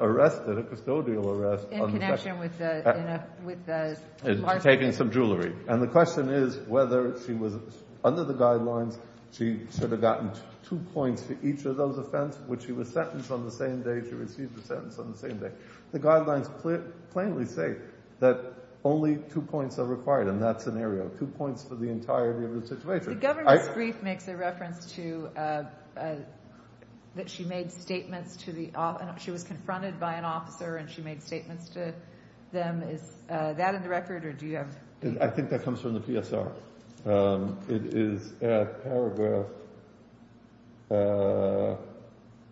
arrested, a custodial arrest. In connection with the marketing? Taking some jewelry. And the question is whether she was under the guidelines, she should have gotten 2 points for each of those offences, which she was sentenced on the same day. She received the sentence on the same day. The guidelines plainly say that only 2 points are required in that scenario. 2 points for the entirety of the situation. The governor's brief makes a reference to, that she made statements to the, she was confronted by an officer and she made statements to them, is that in the record or do you have? I think that comes from the PSR. It is at paragraph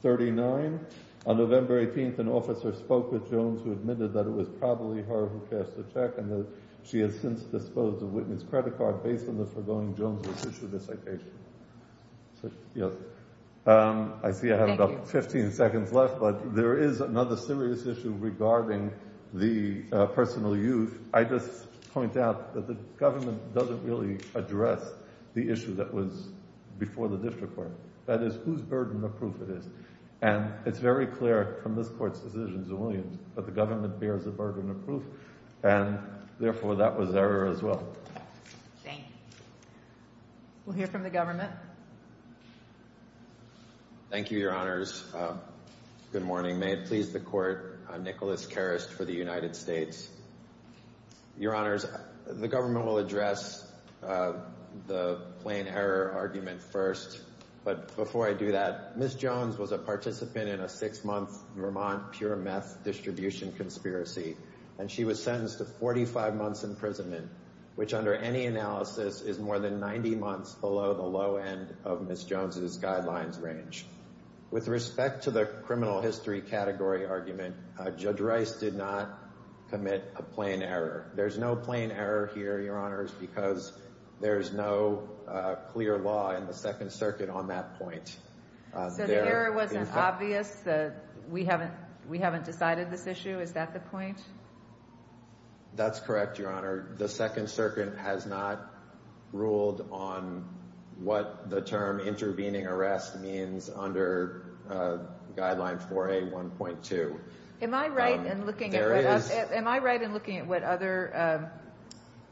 39, on November 18th an officer spoke with Jones who admitted that it was probably her who cashed the check and that she has since disposed of Whitney's credit card based on the foregoing Jones' issue of the citation. I see I have about 15 seconds left, but there is another serious issue regarding the personal use. I just point out that the government doesn't really address the issue that was before the district court. That is, whose burden of proof it is. And it's very clear from this court's decisions in Williams that the government bears a burden of proof and therefore that was error as well. Thank you. We'll hear from the government. Thank you, your honors. Good morning. May it please the court, I'm Nicholas Karest for the United States. Your honors, the government will address the plain error argument first, but before I do that, Ms. Jones was a participant in a six month Vermont pure meth distribution conspiracy and she was sentenced to 45 months imprisonment, which under any analysis is more than 90 months below the low end of Ms. Jones' guidelines range. With respect to the criminal history category argument, Judge Rice did not commit a plain error. There's no plain error here, your honors, because there is no clear law in the Second Circuit. So the error wasn't obvious, we haven't decided this issue, is that the point? That's correct, your honor. The Second Circuit has not ruled on what the term intervening arrest means under Guideline 4A 1.2. Am I right in looking at what other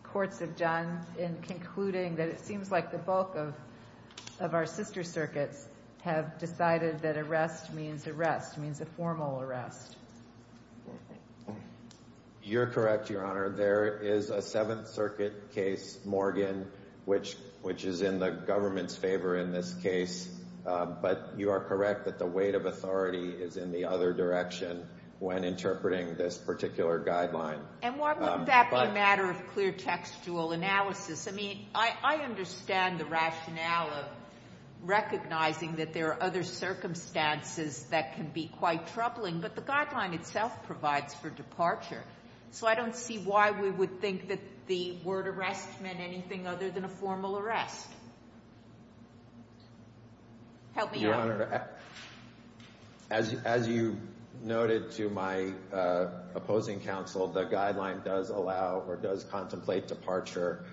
courts have done in concluding that it seems like the bulk of our sister circuits have decided that arrest means arrest, means a formal arrest? You're correct, your honor. There is a Seventh Circuit case, Morgan, which is in the government's favor in this case, but you are correct that the weight of authority is in the other direction when interpreting this particular guideline. And why wouldn't that be a matter of clear textual analysis? I mean, I understand the rationale of recognizing that there are other circumstances that can be quite troubling, but the guideline itself provides for departure. So I don't see why we would think that the word arrest meant anything other than a formal arrest. Help me out. Your honor, as you noted to my opposing counsel, the guideline does allow or does contemplate departure,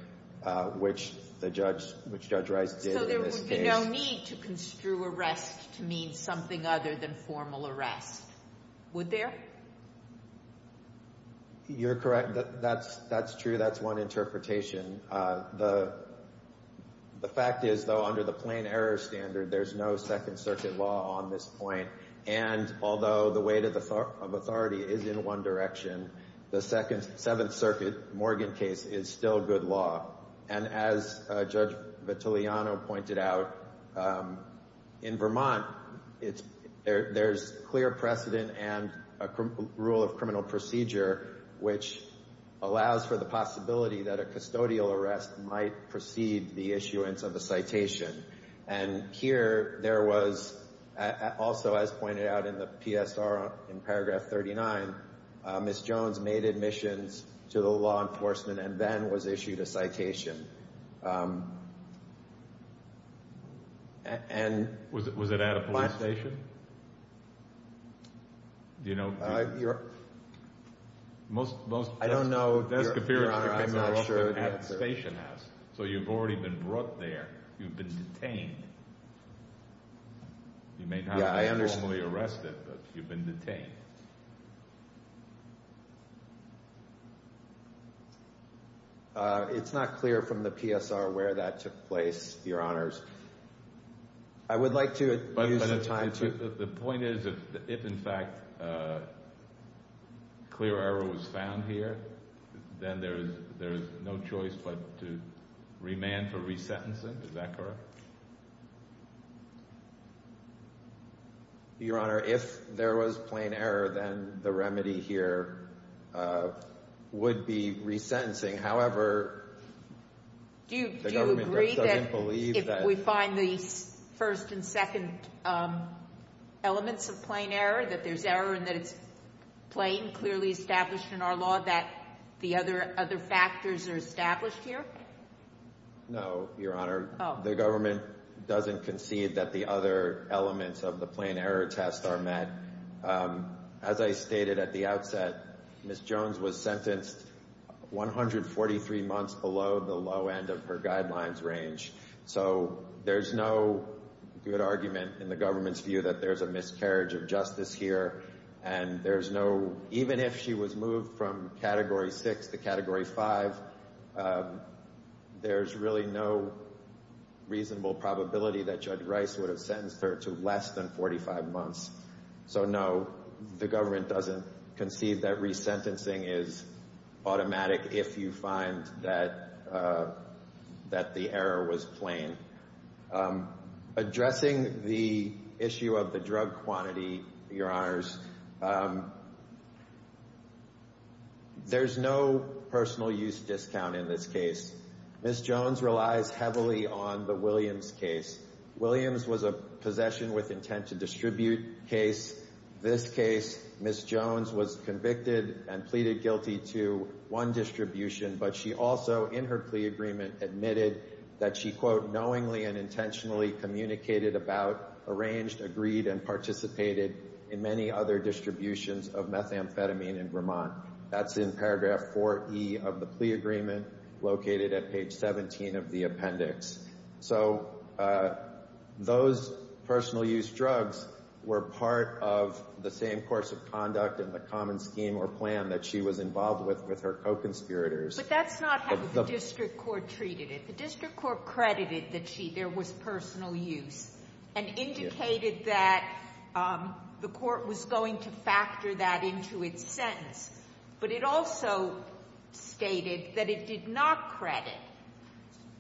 which the judge, which Judge Rice did in this case. So there would be no need to construe arrest to mean something other than formal arrest, would there? You're correct. That's true. That's one interpretation. The fact is, though, under the plain error standard, there's no Second Circuit law on this point. Second case is still good law. And as Judge Vitelliano pointed out, in Vermont, there's clear precedent and a rule of criminal procedure which allows for the possibility that a custodial arrest might precede the issuance of a citation. And here, there was also, as pointed out in the PSR in paragraph 39, Ms. Jones made admissions to the law enforcement and then was issued a citation. And... Was it at a police station? Do you know? I don't know. Your honor, I'm not sure. So you've already been brought there. You've been detained. Yeah, I understand. It's not clear from the PSR where that took place, your honors. I would like to use the time to... The point is, if, in fact, clear error was found here, then there's no choice but to remand for resentencing, is that correct? Your honor, if there was plain error, then the remedy here would be resentencing. However... Do you agree that if we find the first and second elements of plain error, that there's error and that it's plain, clearly established in our law, that the other factors are established here? No, your honor. The government doesn't concede that the other elements of the plain error test are met. As I stated at the outset, Ms. Jones was sentenced 143 months below the low end of her guidelines range, so there's no good argument in the government's view that there's a miscarriage of justice here, and there's no... Reasonable probability that Judge Rice would have sentenced her to less than 45 months. So no, the government doesn't concede that resentencing is automatic if you find that the error was plain. Addressing the issue of the drug quantity, your honors, there's no personal use discount in this case. Ms. Jones relies heavily on the Williams case. Williams was a possession with intent to distribute case. This case, Ms. Jones was convicted and pleaded guilty to one distribution, but she also, in her plea agreement, admitted that she, quote, knowingly and intentionally communicated about, arranged, agreed, and participated in many other distributions of methamphetamine in Vermont. That's in paragraph 4E of the plea agreement, located at page 17 of the appendix. So those personal use drugs were part of the same course of conduct in the common scheme or plan that she was involved with with her co-conspirators. But that's not how the district court treated it. The district court credited that there was personal use and indicated that the court was going to factor that into its sentence. But it also stated that it did not credit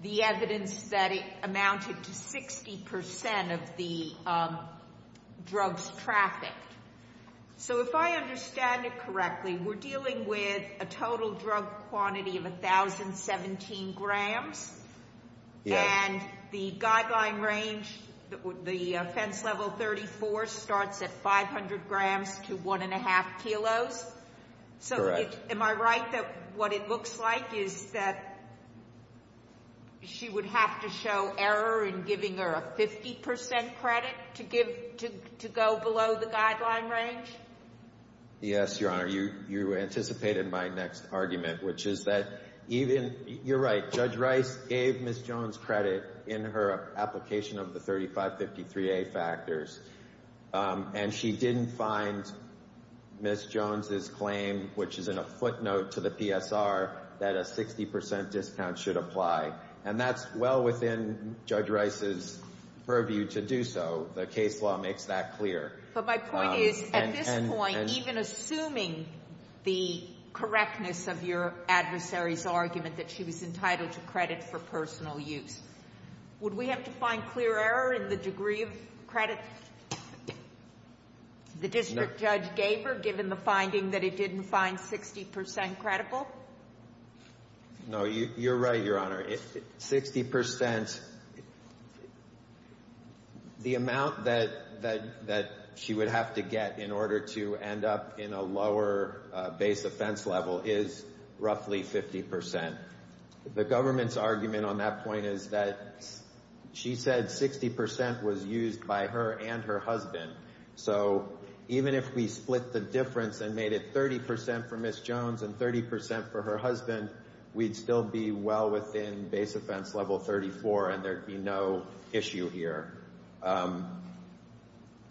the evidence that it amounted to 60% of the drugs trafficked. So if I understand it correctly, we're dealing with a total drug quantity of 1,017 grams, and the guideline range, the offense level 34 starts at 500 grams to one and a half kilos. So am I right that what it looks like is that she would have to show error in giving her a 50% credit to give, to go below the guideline range? Yes, Your Honor, you anticipated my next argument, which is that even, you're right, Judge Rice gave Ms. Jones credit in her application of the 3553A factors. And she didn't find Ms. Jones' claim, which is in a footnote to the PSR, that a 60% discount should apply. And that's well within Judge Rice's purview to do so. The case law makes that clear. But my point is, at this point, even assuming the correctness of your adversary's argument that she was entitled to credit for personal use, would we have to find clear error in the degree of credit the district judge gave her, given the finding that it didn't find 60% credible? No, you're right, Your Honor. 60%, the amount that she would have to get in order to end up in a lower base offense level is roughly 50%. The government's argument on that point is that she said 60% was used by her and her husband. So even if we split the difference and made it 30% for Ms. Jones and 30% for her husband, we'd still be well within base offense level 34, and there'd be no issue here.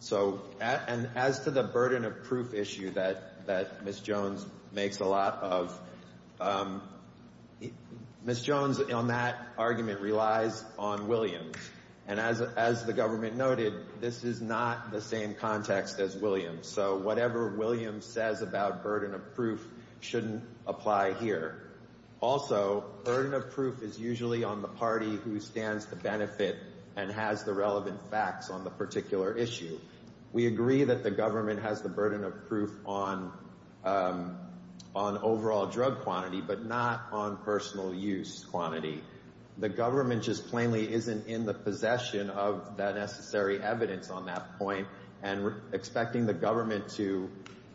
So, and as to the burden of proof issue that Ms. Jones makes a lot of, Ms. Jones on that argument relies on Williams. And as the government noted, this is not the same context as Williams. So whatever Williams says about burden of proof shouldn't apply here. Also, burden of proof is usually on the party who stands to benefit and has the relevant facts on the particular issue. We agree that the government has the burden of proof on overall drug quantity, but not on personal use quantity. The government just plainly isn't in the possession of that necessary evidence on that point, and expecting the government to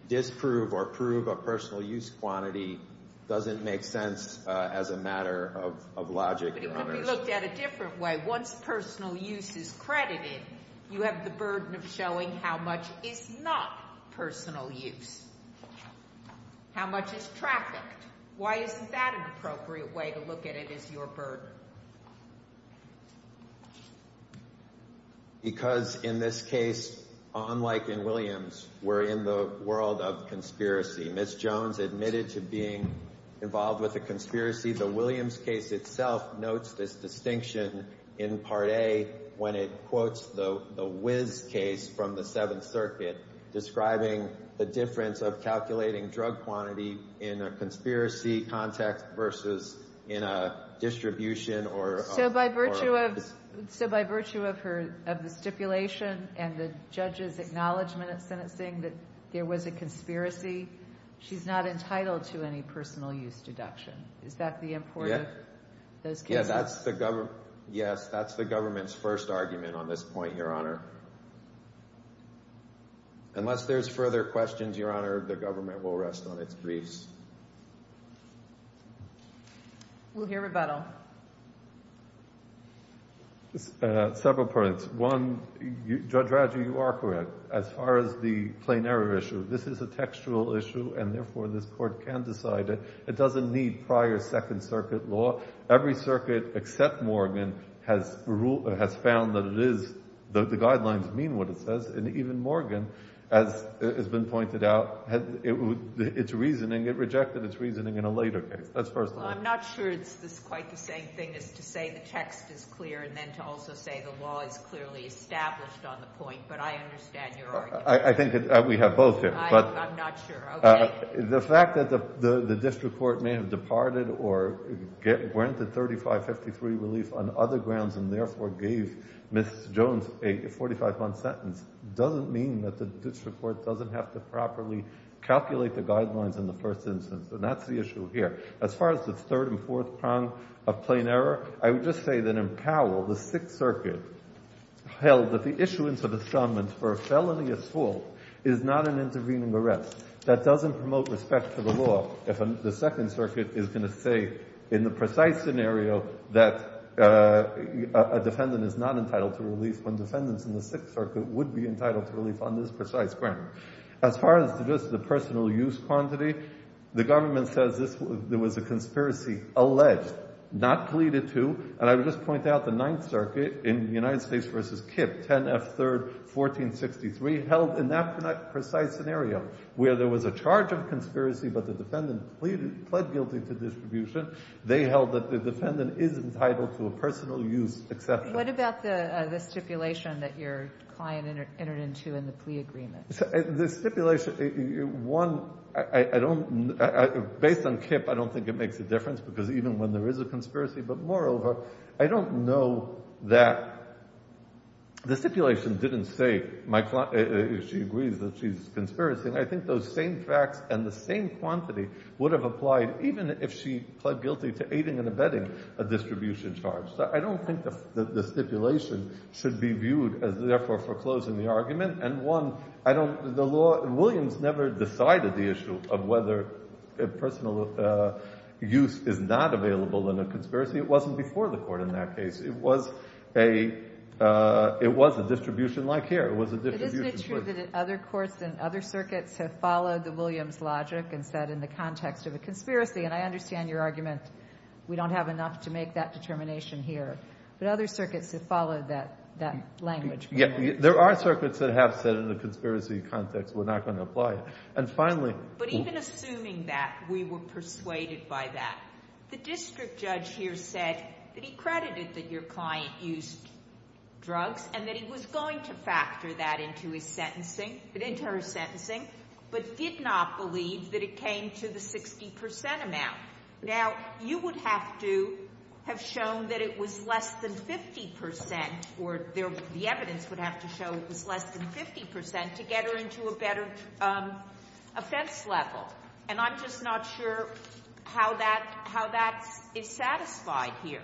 disprove or prove a personal use quantity doesn't make sense as a matter of logic, Your Honor. But it could be looked at a different way. Once personal use is credited, you have the burden of showing how much is not personal use, how much is trafficked. Why isn't that an appropriate way to look at it as your burden? Because in this case, unlike in Williams, we're in the world of conspiracy. Ms. Jones admitted to being involved with a conspiracy. The Williams case itself notes this distinction in Part A when it quotes the Wizz case from the Seventh Circuit, describing the difference of calculating drug quantity in a conspiracy context versus in a distribution or a... So by virtue of the stipulation and the judge's acknowledgment at sentencing that there was a conspiracy, she's not entitled to any personal use deduction. Is that the import of those cases? Yes, that's the government's first argument on this point, Your Honor. Unless there's further questions, Your Honor, the government will rest on its griefs. We'll hear rebuttal. Several points. One, Judge Radley, you are correct. As far as the plain error issue, this is a textual issue, and therefore this court can decide it. It doesn't need prior Second Circuit law. Every circuit except Morgan has found that the guidelines mean what it says, and even Morgan, as has been pointed out, it rejected its reasoning in a later case. That's first of all. Well, I'm not sure it's quite the same thing as to say the text is clear and then to also say the law is clearly established on the point, but I understand your argument. I think that we have both here. I'm not sure. Okay. The fact that the district court may have departed or granted 3553 relief on other grounds and therefore gave Ms. Jones a 45-month sentence doesn't mean that the district court doesn't have to properly calculate the guidelines in the first instance, and that's the issue here. As far as the third and fourth prong of plain error, I would just say that in Powell, the Sixth Circuit held that the issuance of the summons for a felony assault is not an intervening arrest. That doesn't promote respect for the law if the Second Circuit is going to say in the precise scenario that a defendant is not entitled to relief when defendants in the Sixth Circuit would be entitled to relief on this precise ground. As far as just the personal use quantity, the government says there was a conspiracy alleged, not pleaded to, and I would just point out the Ninth Circuit in the United States. In that precise scenario where there was a charge of conspiracy but the defendant pled guilty to distribution, they held that the defendant is entitled to a personal use exception. What about the stipulation that your client entered into in the plea agreement? The stipulation, one, I don't, based on KIPP, I don't think it makes a difference because even when there is a conspiracy, but moreover, I don't know that the stipulation didn't say my client, if she agrees that she's conspiracy, I think those same facts and the same quantity would have applied even if she pled guilty to aiding and abetting a distribution charge. So I don't think the stipulation should be viewed as therefore foreclosing the argument. And one, I don't, the law, Williams never decided the issue of whether personal use is not available in a conspiracy. It wasn't before the Court in that case. It was a, it was a distribution like here. It was a distribution. But isn't it true that other courts and other circuits have followed the Williams logic and said in the context of a conspiracy, and I understand your argument, we don't have enough to make that determination here, but other circuits have followed that, that language. Yeah. There are circuits that have said in the conspiracy context, we're not going to apply it. And finally. But even assuming that we were persuaded by that, the district judge here said that he believed that your client used drugs and that he was going to factor that into his sentencing, into her sentencing, but did not believe that it came to the 60 percent amount. Now, you would have to have shown that it was less than 50 percent or the evidence would have to show it was less than 50 percent to get her into a better offense level. And I'm just not sure how that, how that is satisfied here.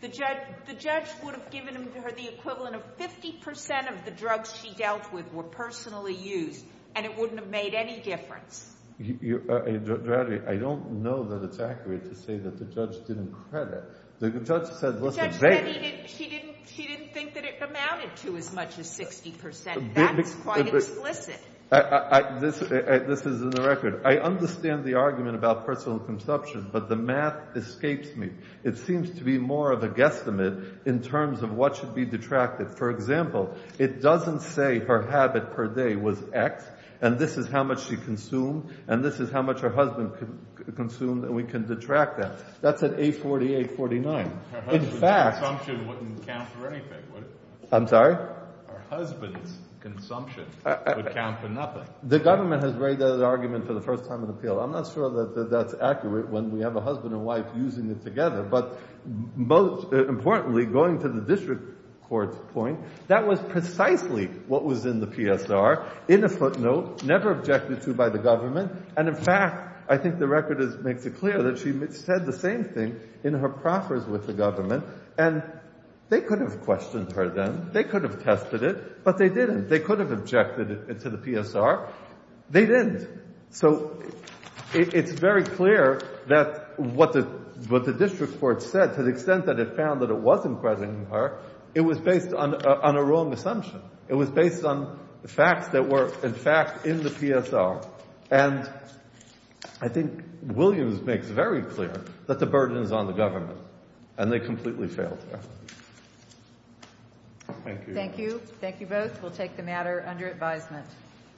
The judge, the judge would have given her the equivalent of 50 percent of the drugs she dealt with were personally used and it wouldn't have made any difference. Dr. Adair, I don't know that it's accurate to say that the judge didn't credit. The judge said, listen, she didn't, she didn't think that it amounted to as much as 60 percent. That's quite explicit. This is in the record. I understand the argument about personal consumption, but the math escapes me. It seems to be more of a guesstimate in terms of what should be detracted. For example, it doesn't say her habit per day was X and this is how much she consumed and this is how much her husband consumed and we can detract that. That's at 840, 849. In fact, I'm sorry, husband's consumption would count for nothing. The government has made that argument for the first time in appeal. I'm not sure that that's accurate when we have a husband and wife using it together, but most importantly, going to the district court's point, that was precisely what was in the PSR in a footnote, never objected to by the government and in fact, I think the record makes it clear that she said the same thing in her proffers with the government and they could have questioned her then. They could have tested it, but they didn't. They could have objected it to the PSR. They didn't. So it's very clear that what the district court said, to the extent that it found that it wasn't present in her, it was based on a wrong assumption. It was based on facts that were in fact in the PSR and I think Williams makes very clear that the burden is on the government and they completely failed there. Thank you. Thank you. Thank you both. We'll take the matter under advisement.